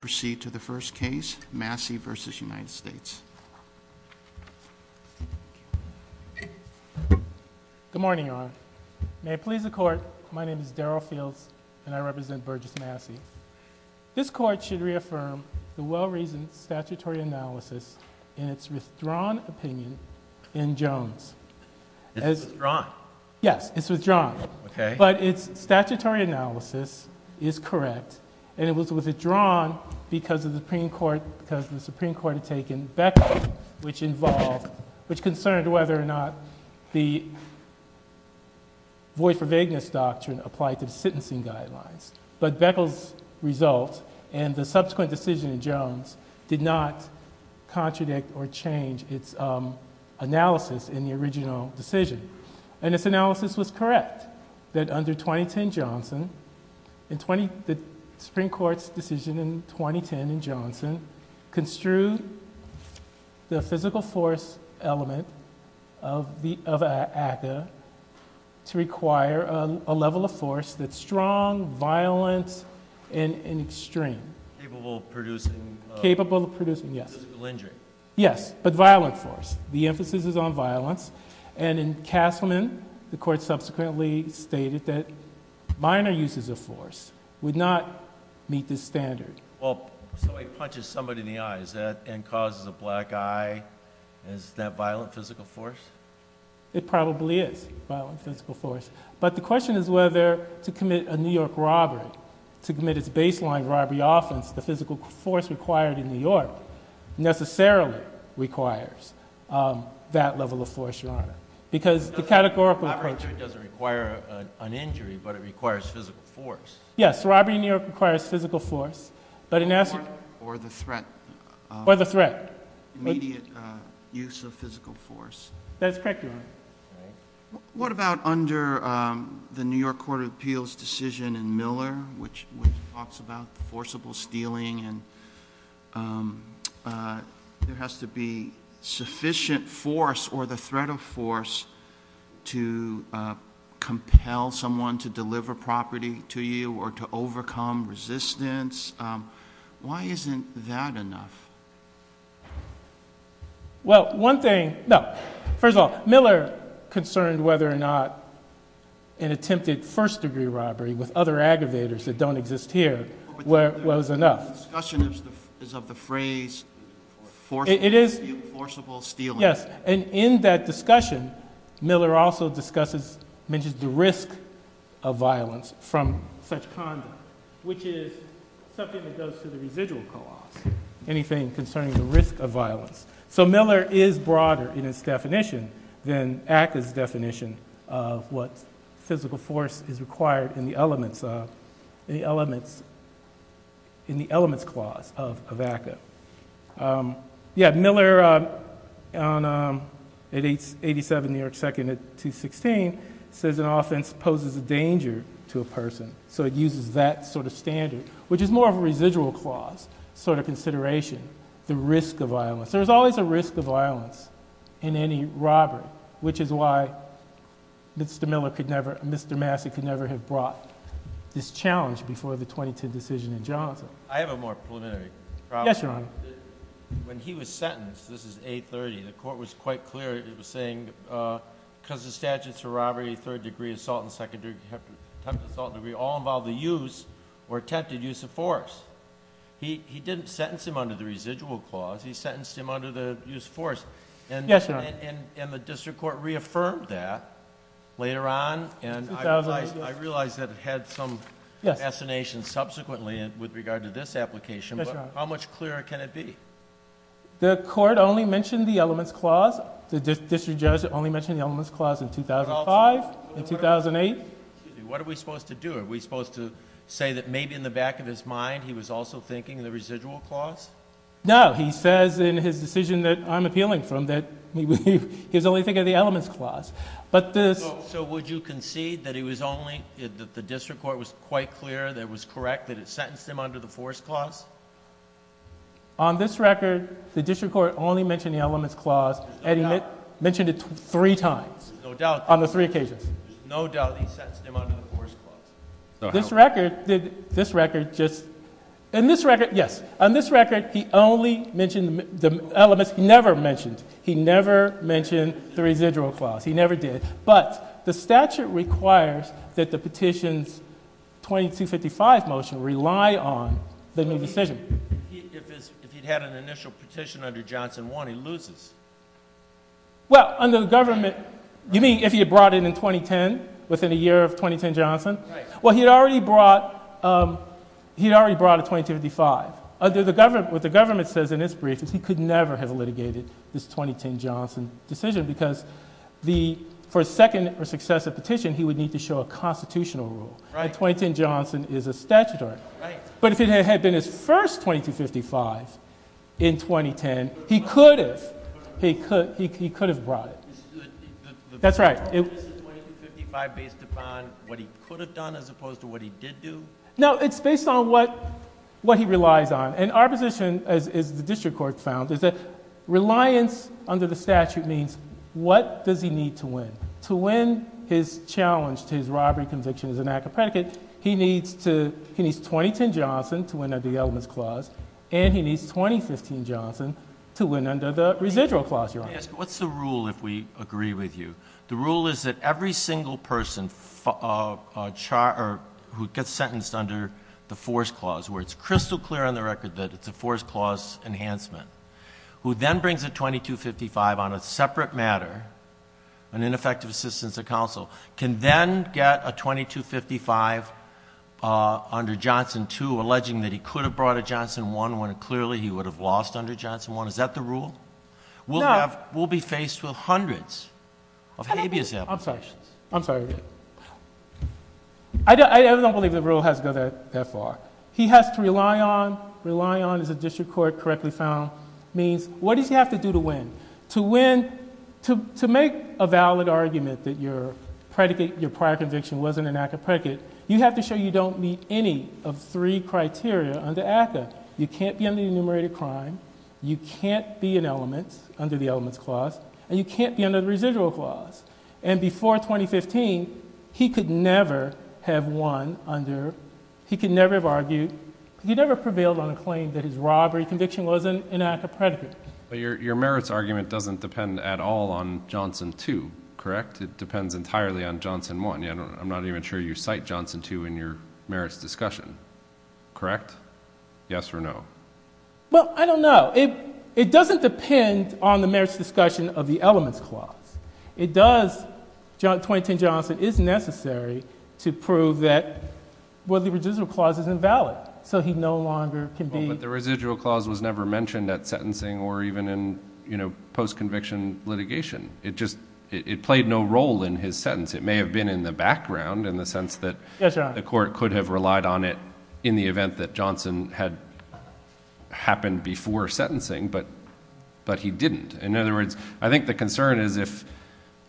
proceed to the first case Massey versus United States. Good morning Your Honor. May I please the court. My name is Darryl Fields and I represent Burgess Massey. This court should reaffirm the well reasoned statutory analysis in its withdrawn opinion in Jones. It's withdrawn? Yes, it's withdrawn. Okay. But it's statutory analysis is correct and it was withdrawn because of the Supreme Court because the Supreme Court had taken Beckles which involved which concerned whether or not the void for vagueness doctrine applied to the sentencing guidelines. But Beckles result and the subsequent decision in Jones did not contradict or change its analysis in the original decision. And its analysis was correct that under 2010 Johnson in 20, the Supreme Court's decision in 2010 in Johnson construed the physical force element of the, of ACCA to require a level of force that's strong, violent and extreme. Capable of producing. Capable of producing, yes. Physical injury. Yes, but violent force. The emphasis is on violence and in Castleman the court subsequently stated that minor uses of force would not meet this standard. Well, somebody punches somebody in the eye, is that, and causes a black eye, is that violent physical force? It probably is violent physical force. But the question is whether to commit a New York robbery, to commit its baseline robbery offense, the physical force required in New York necessarily requires that level of force, Your Honor. Because the categorical approach. Robbery doesn't require an injury but it requires physical force. Yes, robbery in New York requires physical force, but in essence. Or the threat. Or the threat. Immediate use of physical force. That's correct, Your Honor. What about under the New York Court of Appeals decision in Miller which talks about forcible stealing and there has to be sufficient force or the threat of force to compel someone to deliver property to you or to overcome resistance. Why isn't that enough? Well, one thing, no. First of all, Miller concerned whether or not an attempted first degree robbery with other aggravators that don't exist here was enough. The discussion is of the phrase forcible stealing. Yes, and in that discussion Miller also discusses, mentions the risk of violence from such conduct which is something that goes to the residual clause. Anything concerning the risk of violence. So Miller is broader in its definition than ACCA's definition of what physical force is required in the elements clause of ACCA. Yes, Miller in 87 New York second at 216 says an offense poses a danger to a person. So it uses that sort of standard which is more of a residual clause sort of consideration. The risk of violence. There's always a risk of violence in any robbery which is why Mr. Miller could never, Mr. Massey could never have brought this challenge before the 2010 decision in Johnson. I have a more preliminary problem. Yes, Your Honor. When he was sentenced, this is 830, the court was quite clear. It was saying because the statutes for robbery, third degree, assault, and second degree all involve the use or attempted use of force. He didn't sentence him under the residual clause. He sentenced him under the use of force. Yes, Your Honor. And the district court reaffirmed that later on and I realize that it had some fascination subsequently with regard to this application. Yes, Your Honor. How much clearer can it be? The court only mentioned the elements clause. The district judge only mentioned the elements clause in 2005 and 2008. What are we supposed to do? Are we supposed to say that maybe in the back of his mind he was also thinking the residual clause? No. He says in his decision that I'm appealing from that he was only thinking of the elements clause. So would you concede that he was only, that the district court was quite clear that it was correct that it sentenced him under the force clause? On this record, the district court only mentioned the elements clause. Eddie mentioned it three times. No doubt. On the three occasions. There's no doubt he sentenced him under the force clause. This record, this record just, in this record, yes, on this record he only mentioned the elements. He never mentioned. He never mentioned the residual clause. He never did. But the statute requires that the petition's 2255 motion rely on the new decision. If he'd had an initial petition under Johnson 1, he loses. Well, under the government, you mean if he had brought it in 2010, within a year of 2010 Johnson? Right. Well, he'd already brought, he'd already brought a 2255. Under the government, what the government says in its brief is he could never have litigated this 2010 Johnson decision because the, for a second or successive petition, he would need to show a constitutional rule. Right. And 2010 Johnson is a statutory rule. Right. But if it had been his first 2255 in 2010, he could have, he could, he could have brought it. That's right. Is the 2255 based upon what he could have done as opposed to what he did do? No, it's based on what, what he relies on. And our position, as the district court found, is that reliance under the statute means what does he need to win? To win his Johnson, to win at the elements clause. And he needs 2015 Johnson to win under the residual clause. Your Honor, what's the rule? If we agree with you, the rule is that every single person, uh, char or who gets sentenced under the force clause where it's crystal clear on the record that it's a force clause enhancement who then brings a 2255 on a separate matter, an ineffective assistance of counsel, can then get a 2255, uh, under Johnson too, alleging that he could have brought a Johnson one when it clearly he would have lost under Johnson one. Is that the rule? We'll have, we'll be faced with hundreds of habeas applications. I'm sorry. I'm sorry. I don't, I don't believe the rule has to go that far. He has to rely on, rely on as a district court correctly found means what does he have to do to win? To win, to, to make a valid argument that your predicate, your prior conviction wasn't an active predicate. You have to show you don't meet any of three criteria under ACA. You can't be on the enumerated crime. You can't be an element under the elements clause and you can't be under the residual clause. And before 2015 he could never have won under, he can never have argued. He never prevailed on a claim that his robbery conviction wasn't an active predicate. Your, your merits argument doesn't depend at all on Johnson too, correct? It depends entirely on Johnson one. Yeah, I don't, I'm not even sure you cite Johnson two in your merits discussion, correct? Yes or no. Well, I don't know. It, it doesn't depend on the merits discussion of the elements clause. It does. John 2010 Johnson is necessary to prove that what the residual clause is invalid. So he no longer can be, but the residual clause was never mentioned at sentencing or even in, you know, post conviction litigation. It just, it played no role in his sentence. It may have been in the background in the sense that the court could have relied on it in the event that Johnson had happened before sentencing, but, but he didn't. In other words, I think the concern is if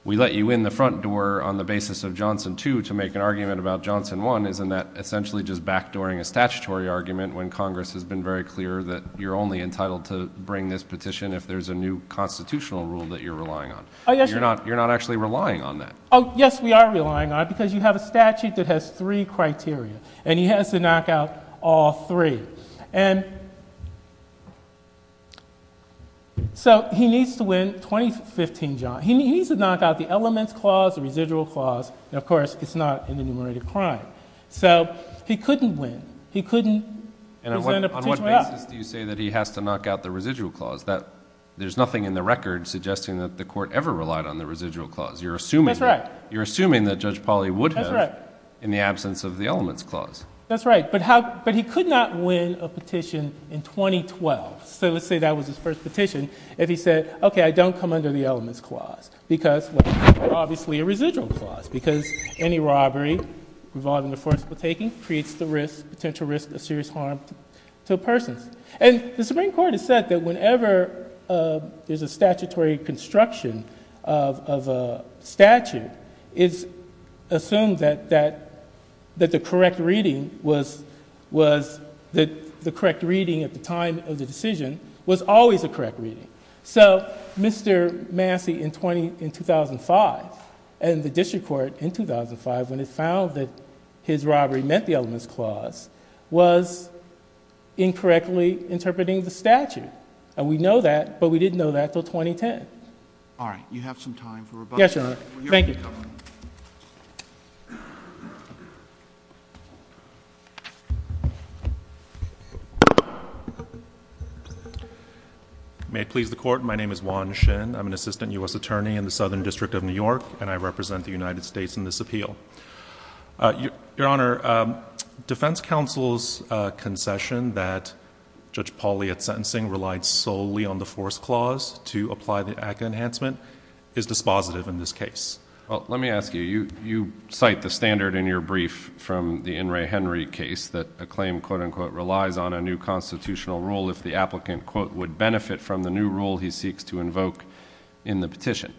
we let you in the front door on the basis of Johnson two to make an argument about Johnson one, isn't that essentially just backdooring a statutory argument when Congress has been very clear that you're only entitled to bring this petition if there's a new constitutional rule that you're relying on. You're not, you're not actually relying on that. Oh yes, we are relying on it because you have a statute that has three criteria and he has to knock out all three. And so he needs to win 2015 John. He needs to knock out the elements clause, the residual clause, and of course it's not an enumerated crime. So he couldn't win. He couldn't. And on what basis do you say that he has to knock out the residual clause that there's nothing in the record suggesting that the court ever relied on the residual clause. You're assuming, you're assuming that judge Polly would have in the absence of the elements clause. That's right. But how, but he could not win a petition in 2012. So let's say that was his first petition. If he said, okay, I don't come under the elements clause because obviously a residual clause because any robbery involving the forceful taking creates the risk, potential risk of serious harm to a person. And the Supreme Court has said that whenever there's a statutory construction of a statute, it's assumed that, that, that the correct reading was, was that the correct reading at the time of the decision was always a correct reading. So Mr. Massey in 20, in 2005 and the district court in 2005 when it was found that his robbery meant the elements clause was incorrectly interpreting the statute. And we know that, but we didn't know that till 2010. All right. You have some time for rebuttal. Yes, Your Honor. Thank you. May it please the court. My name is Juan Shin. I'm an assistant U.S. attorney in the Southern District of New York and I represent the United States. Your Honor, defense counsel's concession that Judge Pauly at sentencing relied solely on the force clause to apply the ACCA enhancement is dispositive in this case. Well, let me ask you, you, you cite the standard in your brief from the In re Henry case that a claim quote unquote relies on a new constitutional rule if the applicant quote would benefit from the new rule he seeks to invoke in the petition.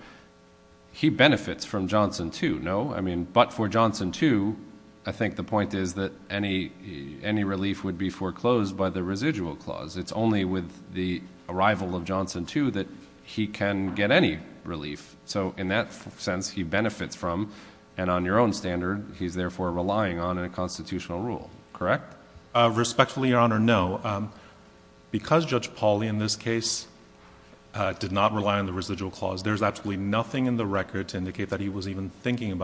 He benefits from Johnson too, no? I mean, but for Johnson too, I think the point is that any, any relief would be foreclosed by the residual clause. It's only with the arrival of Johnson too, that he can get any relief. So in that sense, he benefits from, and on your own standard, he's therefore relying on a constitutional rule, correct? Respectfully, Your Honor. No, because Judge Pauly in this case did not rely on the residual clause, there's absolutely nothing in the record to rely on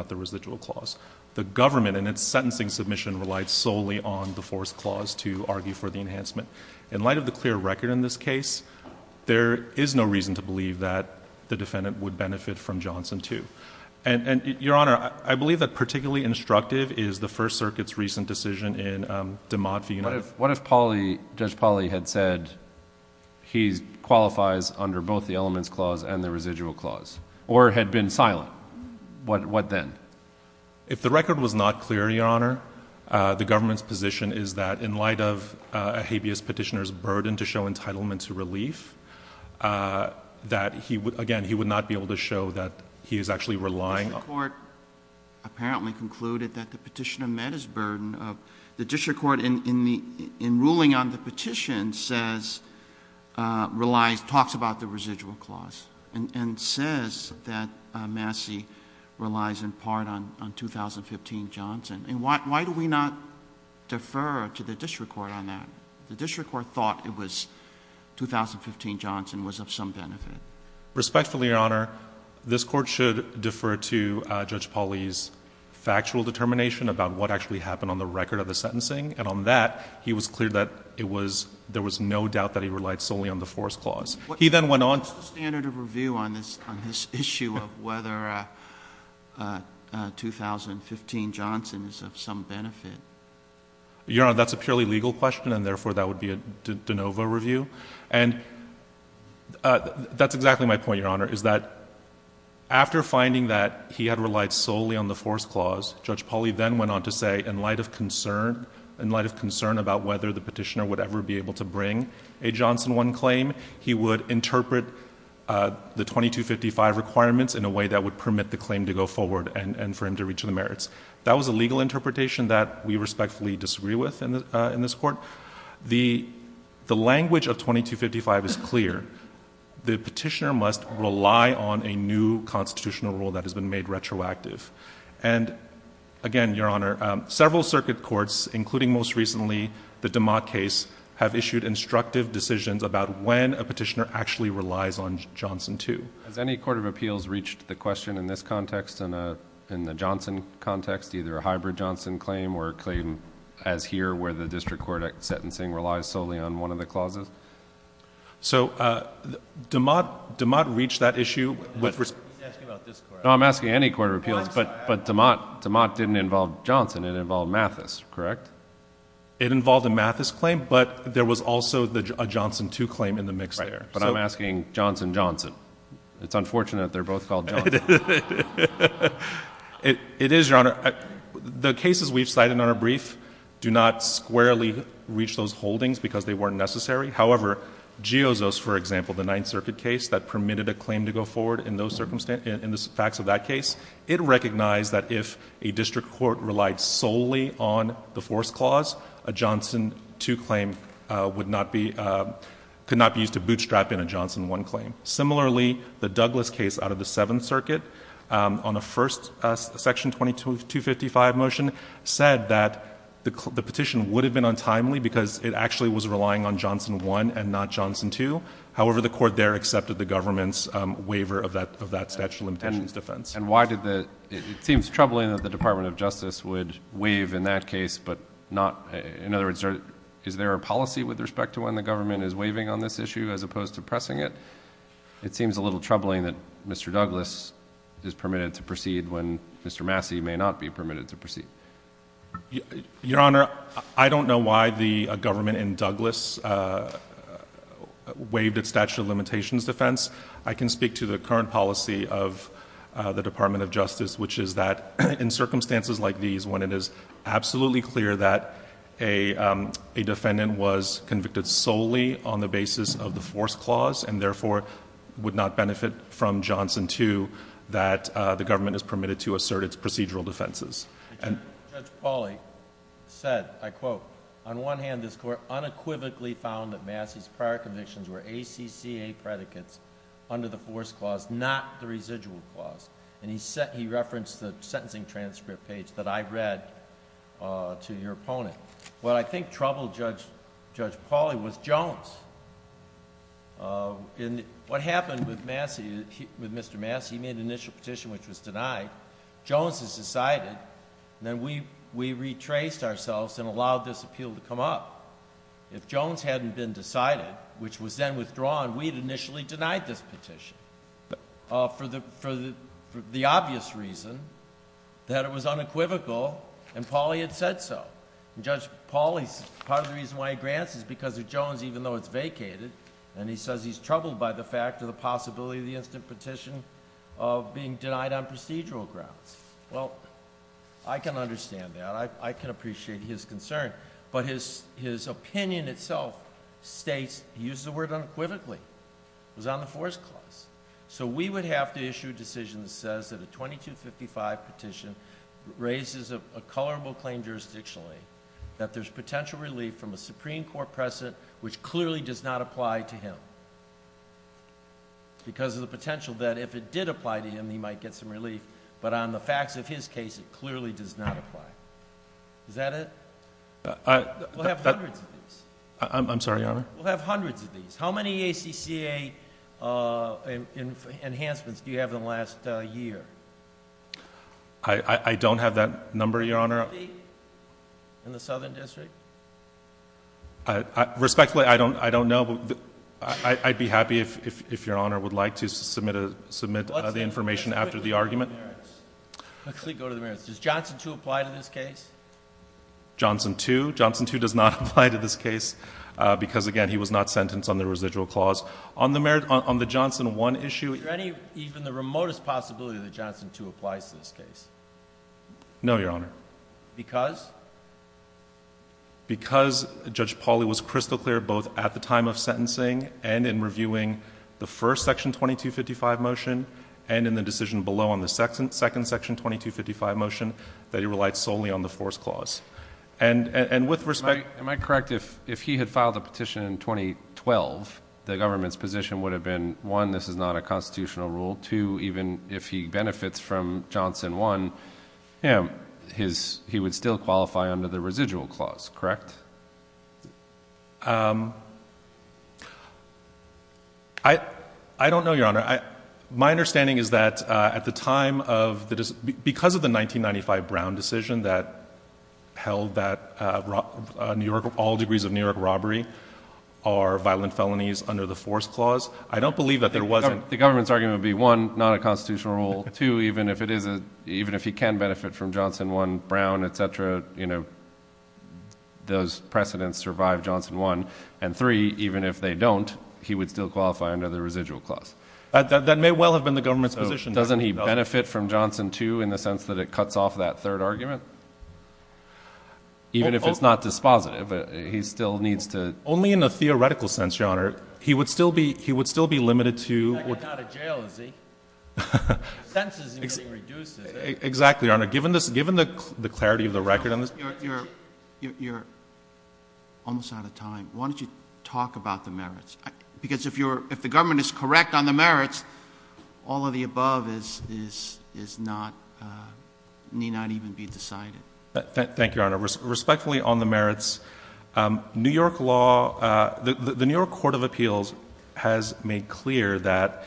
the residual clause. The government and its sentencing submission relied solely on the force clause to argue for the enhancement. In light of the clear record in this case, there is no reason to believe that the defendant would benefit from Johnson too. And, and Your Honor, I believe that particularly instructive is the first circuit's recent decision in DeMott v. United States. What if Pauly, Judge Pauly had said he qualifies under both the If the record was not clear, Your Honor, uh, the government's position is that in light of a habeas petitioner's burden to show entitlement to relief, uh, that he would, again, he would not be able to show that he is actually relying on... The district court apparently concluded that the petitioner met his burden of... the district court in, in the, in ruling on the petition says, uh, relies, talks about the on, on 2015 Johnson. And why, why do we not defer to the district court on that? The district court thought it was 2015 Johnson was of some benefit. Respectfully, Your Honor, this court should defer to, uh, Judge Pauly's factual determination about what actually happened on the record of the sentencing. And on that, he was clear that it was, there was no doubt that he relied solely on the force clause. He then went on to... Your Honor, that's a purely legal question, and therefore, that would be a de novo review. And, uh, that's exactly my point, Your Honor, is that after finding that he had relied solely on the force clause, Judge Pauly then went on to say, in light of concern, in light of concern about whether the petitioner would ever be able to bring a Johnson 1 claim, he would interpret, uh, the 2255 requirements in a way that would permit the claim to go on to reach the merits. That was a legal interpretation that we respectfully disagree with in the, uh, in this court. The, the language of 2255 is clear. The petitioner must rely on a new constitutional rule that has been made retroactive. And again, Your Honor, um, several circuit courts, including most recently the DeMott case, have issued instructive decisions about when a petitioner actually relies on Johnson 2. Has any court of appeals reached the question in this context, in the Johnson context, either a hybrid Johnson claim or a claim as here where the district court sentencing relies solely on one of the clauses? So, uh, DeMott, DeMott reached that issue... No, I'm asking any court of appeals, but, but DeMott, DeMott didn't involve Johnson, it involved Mathis, correct? It involved a Mathis claim, but there was also a Johnson 2 claim in the mix there. But I'm asking Johnson, Johnson. It's unfortunate they're both called Johnson. It is, Your Honor. The cases we've cited on our brief do not squarely reach those holdings because they weren't necessary. However, Giozzo's, for example, the Ninth Circuit case that permitted a claim to go forward in those circumstances, in the facts of that case, it recognized that if a district court relied solely on the force clause, a Johnson 2 claim, uh, would not be, uh, could not be used to bootstrap in a Johnson 1 claim. Similarly, the Douglas case out of the Seventh Circuit, um, on the first, uh, section 22, 255 motion said that the, the petition would have been untimely because it actually was relying on Johnson 1 and not Johnson 2. However, the court there accepted the government's, um, waiver of that, of that statute of limitations defense. And why did the... it seems troubling that the Department of Justice would waive in that a policy with respect to when the government is waiving on this issue as opposed to pressing it? It seems a little troubling that Mr. Douglas is permitted to proceed when Mr. Massey may not be permitted to proceed. Your Honor, I don't know why the government in Douglas, uh, waived its statute of limitations defense. I can speak to the current policy of, uh, the Department of Justice, which is that in circumstances like these, when it is absolutely clear that a, um, a defendant was convicted solely on the basis of the force clause and therefore would not benefit from Johnson 2, that, uh, the government is permitted to assert its procedural defenses and... Judge... Judge Pauly said, I quote, on one hand, this court unequivocally found that Massey's prior convictions were ACCA predicates under the force clause, not the residual clause. And he said... he referenced the sentencing transcript page that I read, uh, to your opponent. What I think troubled Judge... Judge Pauly was Jones. Uh, in the... what happened with Massey... with Mr. Massey, he made an initial petition which was denied. Jones has decided. Then we... we retraced ourselves and allowed this appeal to come up. If Jones hadn't been decided, which was then withdrawn, we'd initially denied this petition, uh, for the... for the... for the obvious reason that it was unequivocal and Pauly had said so. And Judge Pauly's... part of the reason why he grants is because of Jones even though it's vacated. And he says he's troubled by the fact of the possibility of the instant petition of being denied on procedural grounds. Well, I can understand that. I... I can appreciate his concern. But his... his opinion itself states... he used the word says that a 2255 petition raises a... a colorable claim jurisdictionally that there's potential relief from a Supreme Court precedent which clearly does not apply to him. Because of the potential that if it did apply to him, he might get some relief. But on the facts of his case, it clearly does not apply. Is that it? I... I... We'll have hundreds of these. I'm... I'm sorry, Your Honor. We'll have hundreds of these. How many ACCA enhancements do you have in the last year? I... I... I don't have that number, Your Honor. 50? In the Southern District? I... I... Respectfully, I don't... I don't know. But... I... I'd be happy if... if... if Your Honor would like to submit a... submit the information after the argument. Let's go to the merits. Let's go to the merits. Does Johnson 2 apply to this case? Johnson 2. Johnson 2 does not apply to this case because, again, he was not sentenced on the residual clause. On the merit... on the Johnson 1 issue... Is there any... even the remotest possibility that Johnson 2 applies to this case? No, Your Honor. Because? Because Judge Pauly was crystal clear both at the time of sentencing and in reviewing the first Section 2255 motion and in the decision below on the second... second Section 246 clause. And... and... and with respect... Am I... am I correct if... if he had filed a petition in 2012, the government's position would have been, one, this is not a constitutional rule. Two, even if he benefits from Johnson 1, him... his... he would still qualify under the residual clause, correct? Um... I... I don't know, Your Honor. I... My understanding is that at the time of the... because of the 1995 Brown decision that held that New York... all degrees of New York robbery are violent felonies under the force clause, I don't believe that there wasn't... The government's argument would be, one, not a constitutional rule. Two, even if it is a... even if he can benefit from Johnson 1, Brown, et cetera, you know, those precedents survive Johnson 1. And three, even if they don't, he would still qualify under the residual clause. That... that may well have been the government's position. Doesn't he benefit from Johnson 2 in the sense that it cuts off that third argument? Even if it's not dispositive, he still needs to... Only in a theoretical sense, Your Honor. He would still be... he would still be limited to... He's not going to get out of jail, is he? Senses are getting reduced, isn't it? Exactly, Your Honor. Given this... given the clarity of the record on this... You're... you're... you're almost out of time. Why don't you talk about the merits? Because if you're... if the government is correct on the merits, all of the above is... is... is not... need not even be decided. Thank you, Your Honor. Respectfully on the merits, New York law... the New York Court of Appeals has made clear that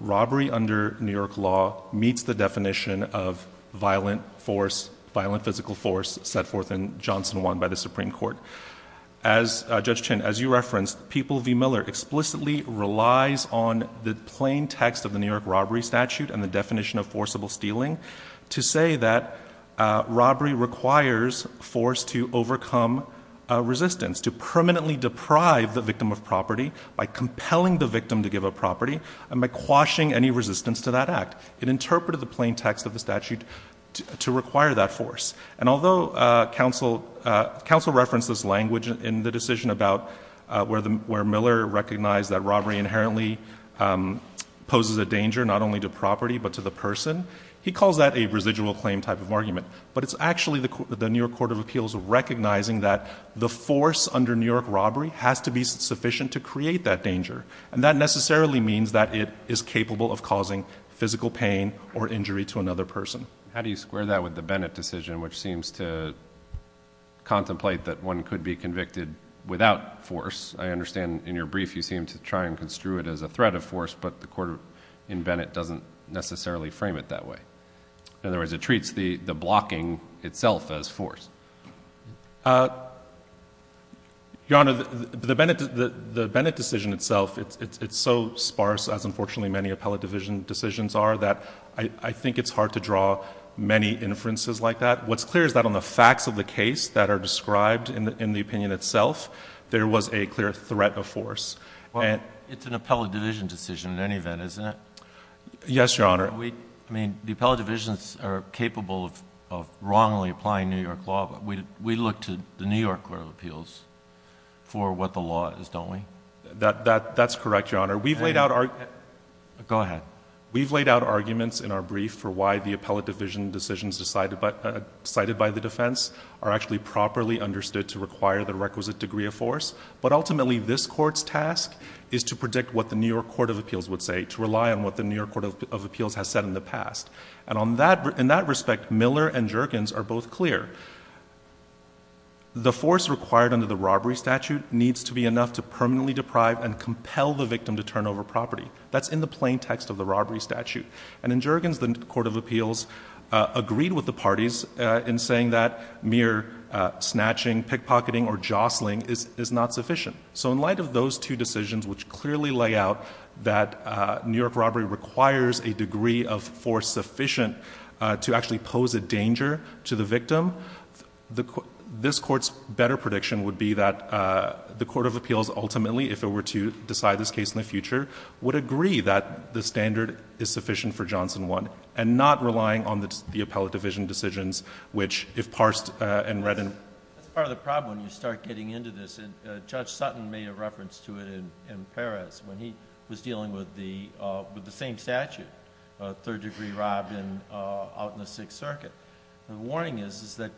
robbery under New York law meets the definition of violent force, violent physical force, set forth in Johnson 1 by the Supreme Court. As Judge Chin, as you referenced, People v. Miller explicitly relies on the plain text of the New York robbery statute and the definition of forcible stealing to say that robbery requires force to overcome resistance, to permanently deprive the victim of property by compelling the victim to give up property and by quashing any resistance to that act. It interpreted the plain text of the statute to require that force. And although counsel... counsel referenced this language in the decision about where the... where Miller recognized that robbery inherently poses a danger not only to property but to the person, he calls that a residual claim type of argument. But it's actually the New York Court of Appeals recognizing that the force under New York robbery has to be sufficient to create that danger. And that necessarily means that it is capable of causing physical pain or injury to another person. How do you square that with the Bennett decision, which seems to contemplate that one could be convicted without force? I understand in your brief you seem to try and construe it as a threat of force, but the court in Bennett doesn't necessarily frame it that way. In other words, it treats the blocking itself as force. Your Honor, the Bennett decision itself, it's so sparse, as unfortunately many appellate division decisions are, that I think it's hard to draw many inferences like that. What's clear is that on the facts of the case that are described in the opinion itself, there was a clear threat of force. And... Well, it's an appellate division decision in any event, isn't it? Yes, Your Honor. I mean, the appellate divisions are capable of wrongly applying New York law, but we look to the New York Court of Appeals for what the law is, don't we? That's correct, Your Honor. We've laid out... Go ahead. We've laid out arguments in our brief for why the appellate division decisions cited by the defense are actually properly understood to require the requisite degree of force. But ultimately, this Court's task is to predict what the New York Court of Appeals would say, to rely on what the New York Court of Appeals has said in the past. And in that respect, Miller and Juergens are both clear. The force required under the robbery statute needs to be enough to permanently deprive and compel the victim to turn over property. That's in the plain text of the robbery statute. And in Juergens, the Court of Appeals agreed with the parties in saying that mere snatching, pickpocketing, or jostling is not sufficient. So in light of those two decisions, which clearly lay out that New York robbery requires a degree of force sufficient to actually pose a danger to the victim, this Court's better prediction would be that the Court of Appeals ultimately, if it were to decide this case in the future, would agree that the standard is sufficient for Johnson 1, and not relying on the appellate division decisions, which, if parsed and read in... That's part of the problem when you start getting into this. And Judge Sutton made a reference to it in Perez, when he was dealing with the same statute, a third-degree rob out in the Sixth Circuit. The warning is that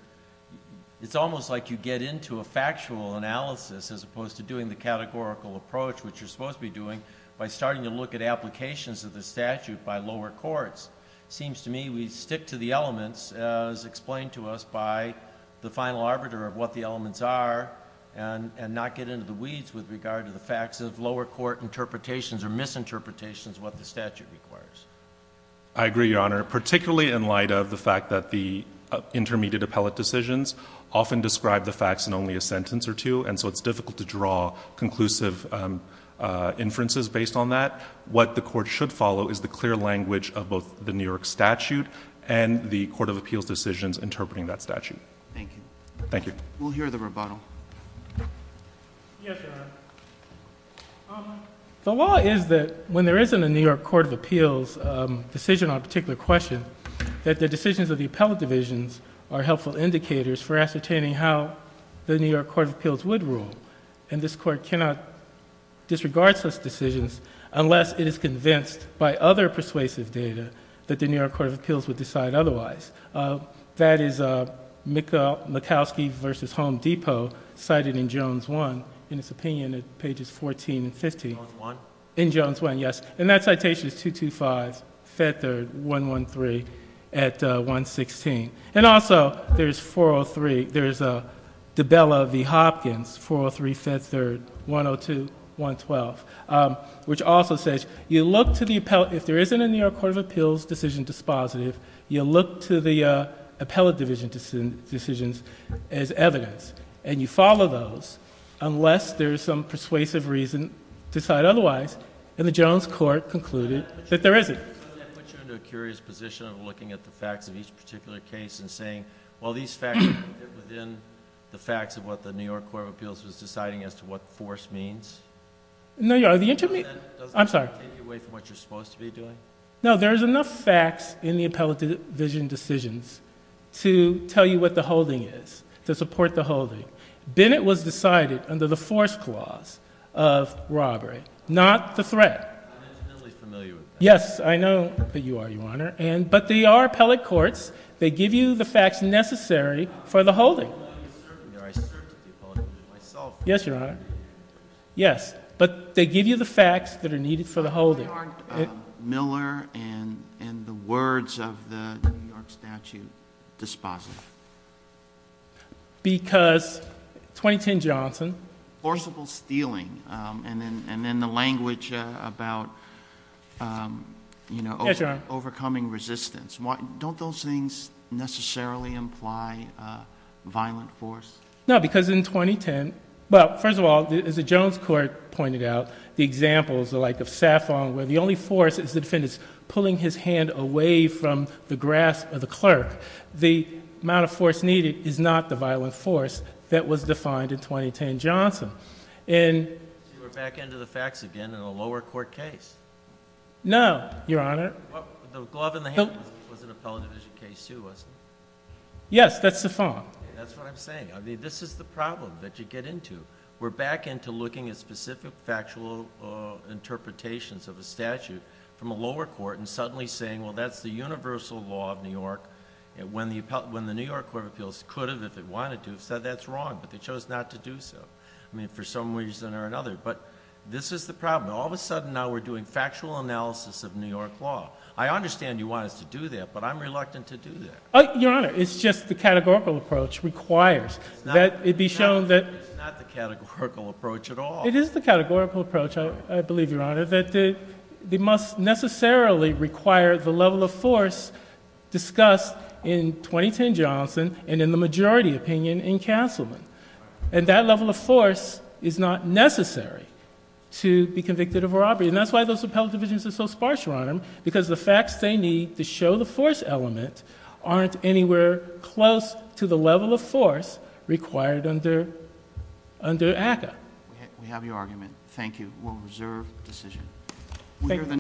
it's almost like you get into a factual analysis of this, as opposed to doing the categorical approach, which you're supposed to be doing, by starting to look at applications of the statute by lower courts. It seems to me we stick to the elements, as explained to us by the final arbiter of what the elements are, and not get into the weeds with regard to the facts of lower court interpretations or misinterpretations of what the statute requires. I agree, Your Honor, particularly in light of the fact that the intermediate appellate decisions often describe the facts in only a sentence or two, and so it's difficult to draw conclusive inferences based on that. What the Court should follow is the clear language of both the New York statute and the Court of Appeals decisions interpreting that statute. Thank you. Thank you. We'll hear the rebuttal. Yes, Your Honor. The law is that when there isn't a New York Court of Appeals decision on a particular question, that the decisions of the appellate divisions are helpful indicators for ascertaining how the New York Court of Appeals would rule. And this Court cannot disregard such decisions unless it is convinced by other persuasive data that the New York Court of Appeals would decide otherwise. That is Mikowski v. Home Depot, cited in Jones 1, in its opinion at pages 14 and 15. Jones 1? In Jones 1, yes. And that citation is 225, Fed Third, 113, at 116. And also there's 403, there's DiBella v. Hopkins, 403, Fed Third, 102, 112, which also says you look to the appellate, if there isn't a New York Court of Appeals decision dispositive, you look to the appellate division decisions as evidence, and you follow those unless there's some persuasive reason to decide otherwise. And the Jones Court concluded that there isn't. I put you into a curious position of looking at the facts of each particular case and saying, well, these facts are within the facts of what the New York Court of Appeals was deciding as to what force means. No, you are, the intermediate, I'm sorry. Doesn't that take you away from what you're supposed to be doing? No, there's enough facts in the appellate division decisions to tell you what the holding is, to support the holding. Bennett was decided under the force clause of robbery, not the threat. I'm intimately familiar with that. Yes, I know that you are, Your Honor. But they are appellate courts. They give you the facts necessary for the holding. I certainly are. I served at the appellate division myself. Yes, Your Honor. Yes. But they give you the facts that are needed for the holding. Why aren't Miller and the words of the New York statute dispositive? Because 2010 Johnson. Forcible stealing and then the language about, you know, overcoming resistance. Don't those things necessarily imply violent force? No, because in 2010, well, first of all, as the Jones Court pointed out, the examples are like of Saffong, where the only force is the defendant's pulling his hand away from the grasp of the clerk. The amount of force needed is not the violent force that was defined in 2010 Johnson. So you're back into the facts again in a lower court case? No, Your Honor. The glove in the hand was an appellate division case too, wasn't it? Yes, that's Saffong. That's what I'm saying. I mean, this is the problem that you get into. We're back into looking at specific factual interpretations of a statute from a lower court and suddenly saying, well, that's the universal law of New York. When the New York Court of Appeals could have, if it wanted to, said that's wrong, but they chose not to do so. I mean, for some reason or another. But this is the problem. All of a sudden now we're doing factual analysis of New York law. I understand you want us to do that, but I'm reluctant to do that. Your Honor, it's just the categorical approach requires that it be shown that... It is not the categorical approach at all. It is the categorical approach, I believe, Your Honor, that they must necessarily require the level of force discussed in 2010 Johnson and in the majority opinion in Castleman. And that level of force is not necessary to be convicted of robbery. And that's why those appellate divisions are so sparse, Your Honor, because the facts they need to show the force element aren't anywhere close to the level of force required under ACCA. We have your argument. Thank you. We'll reserve the decision.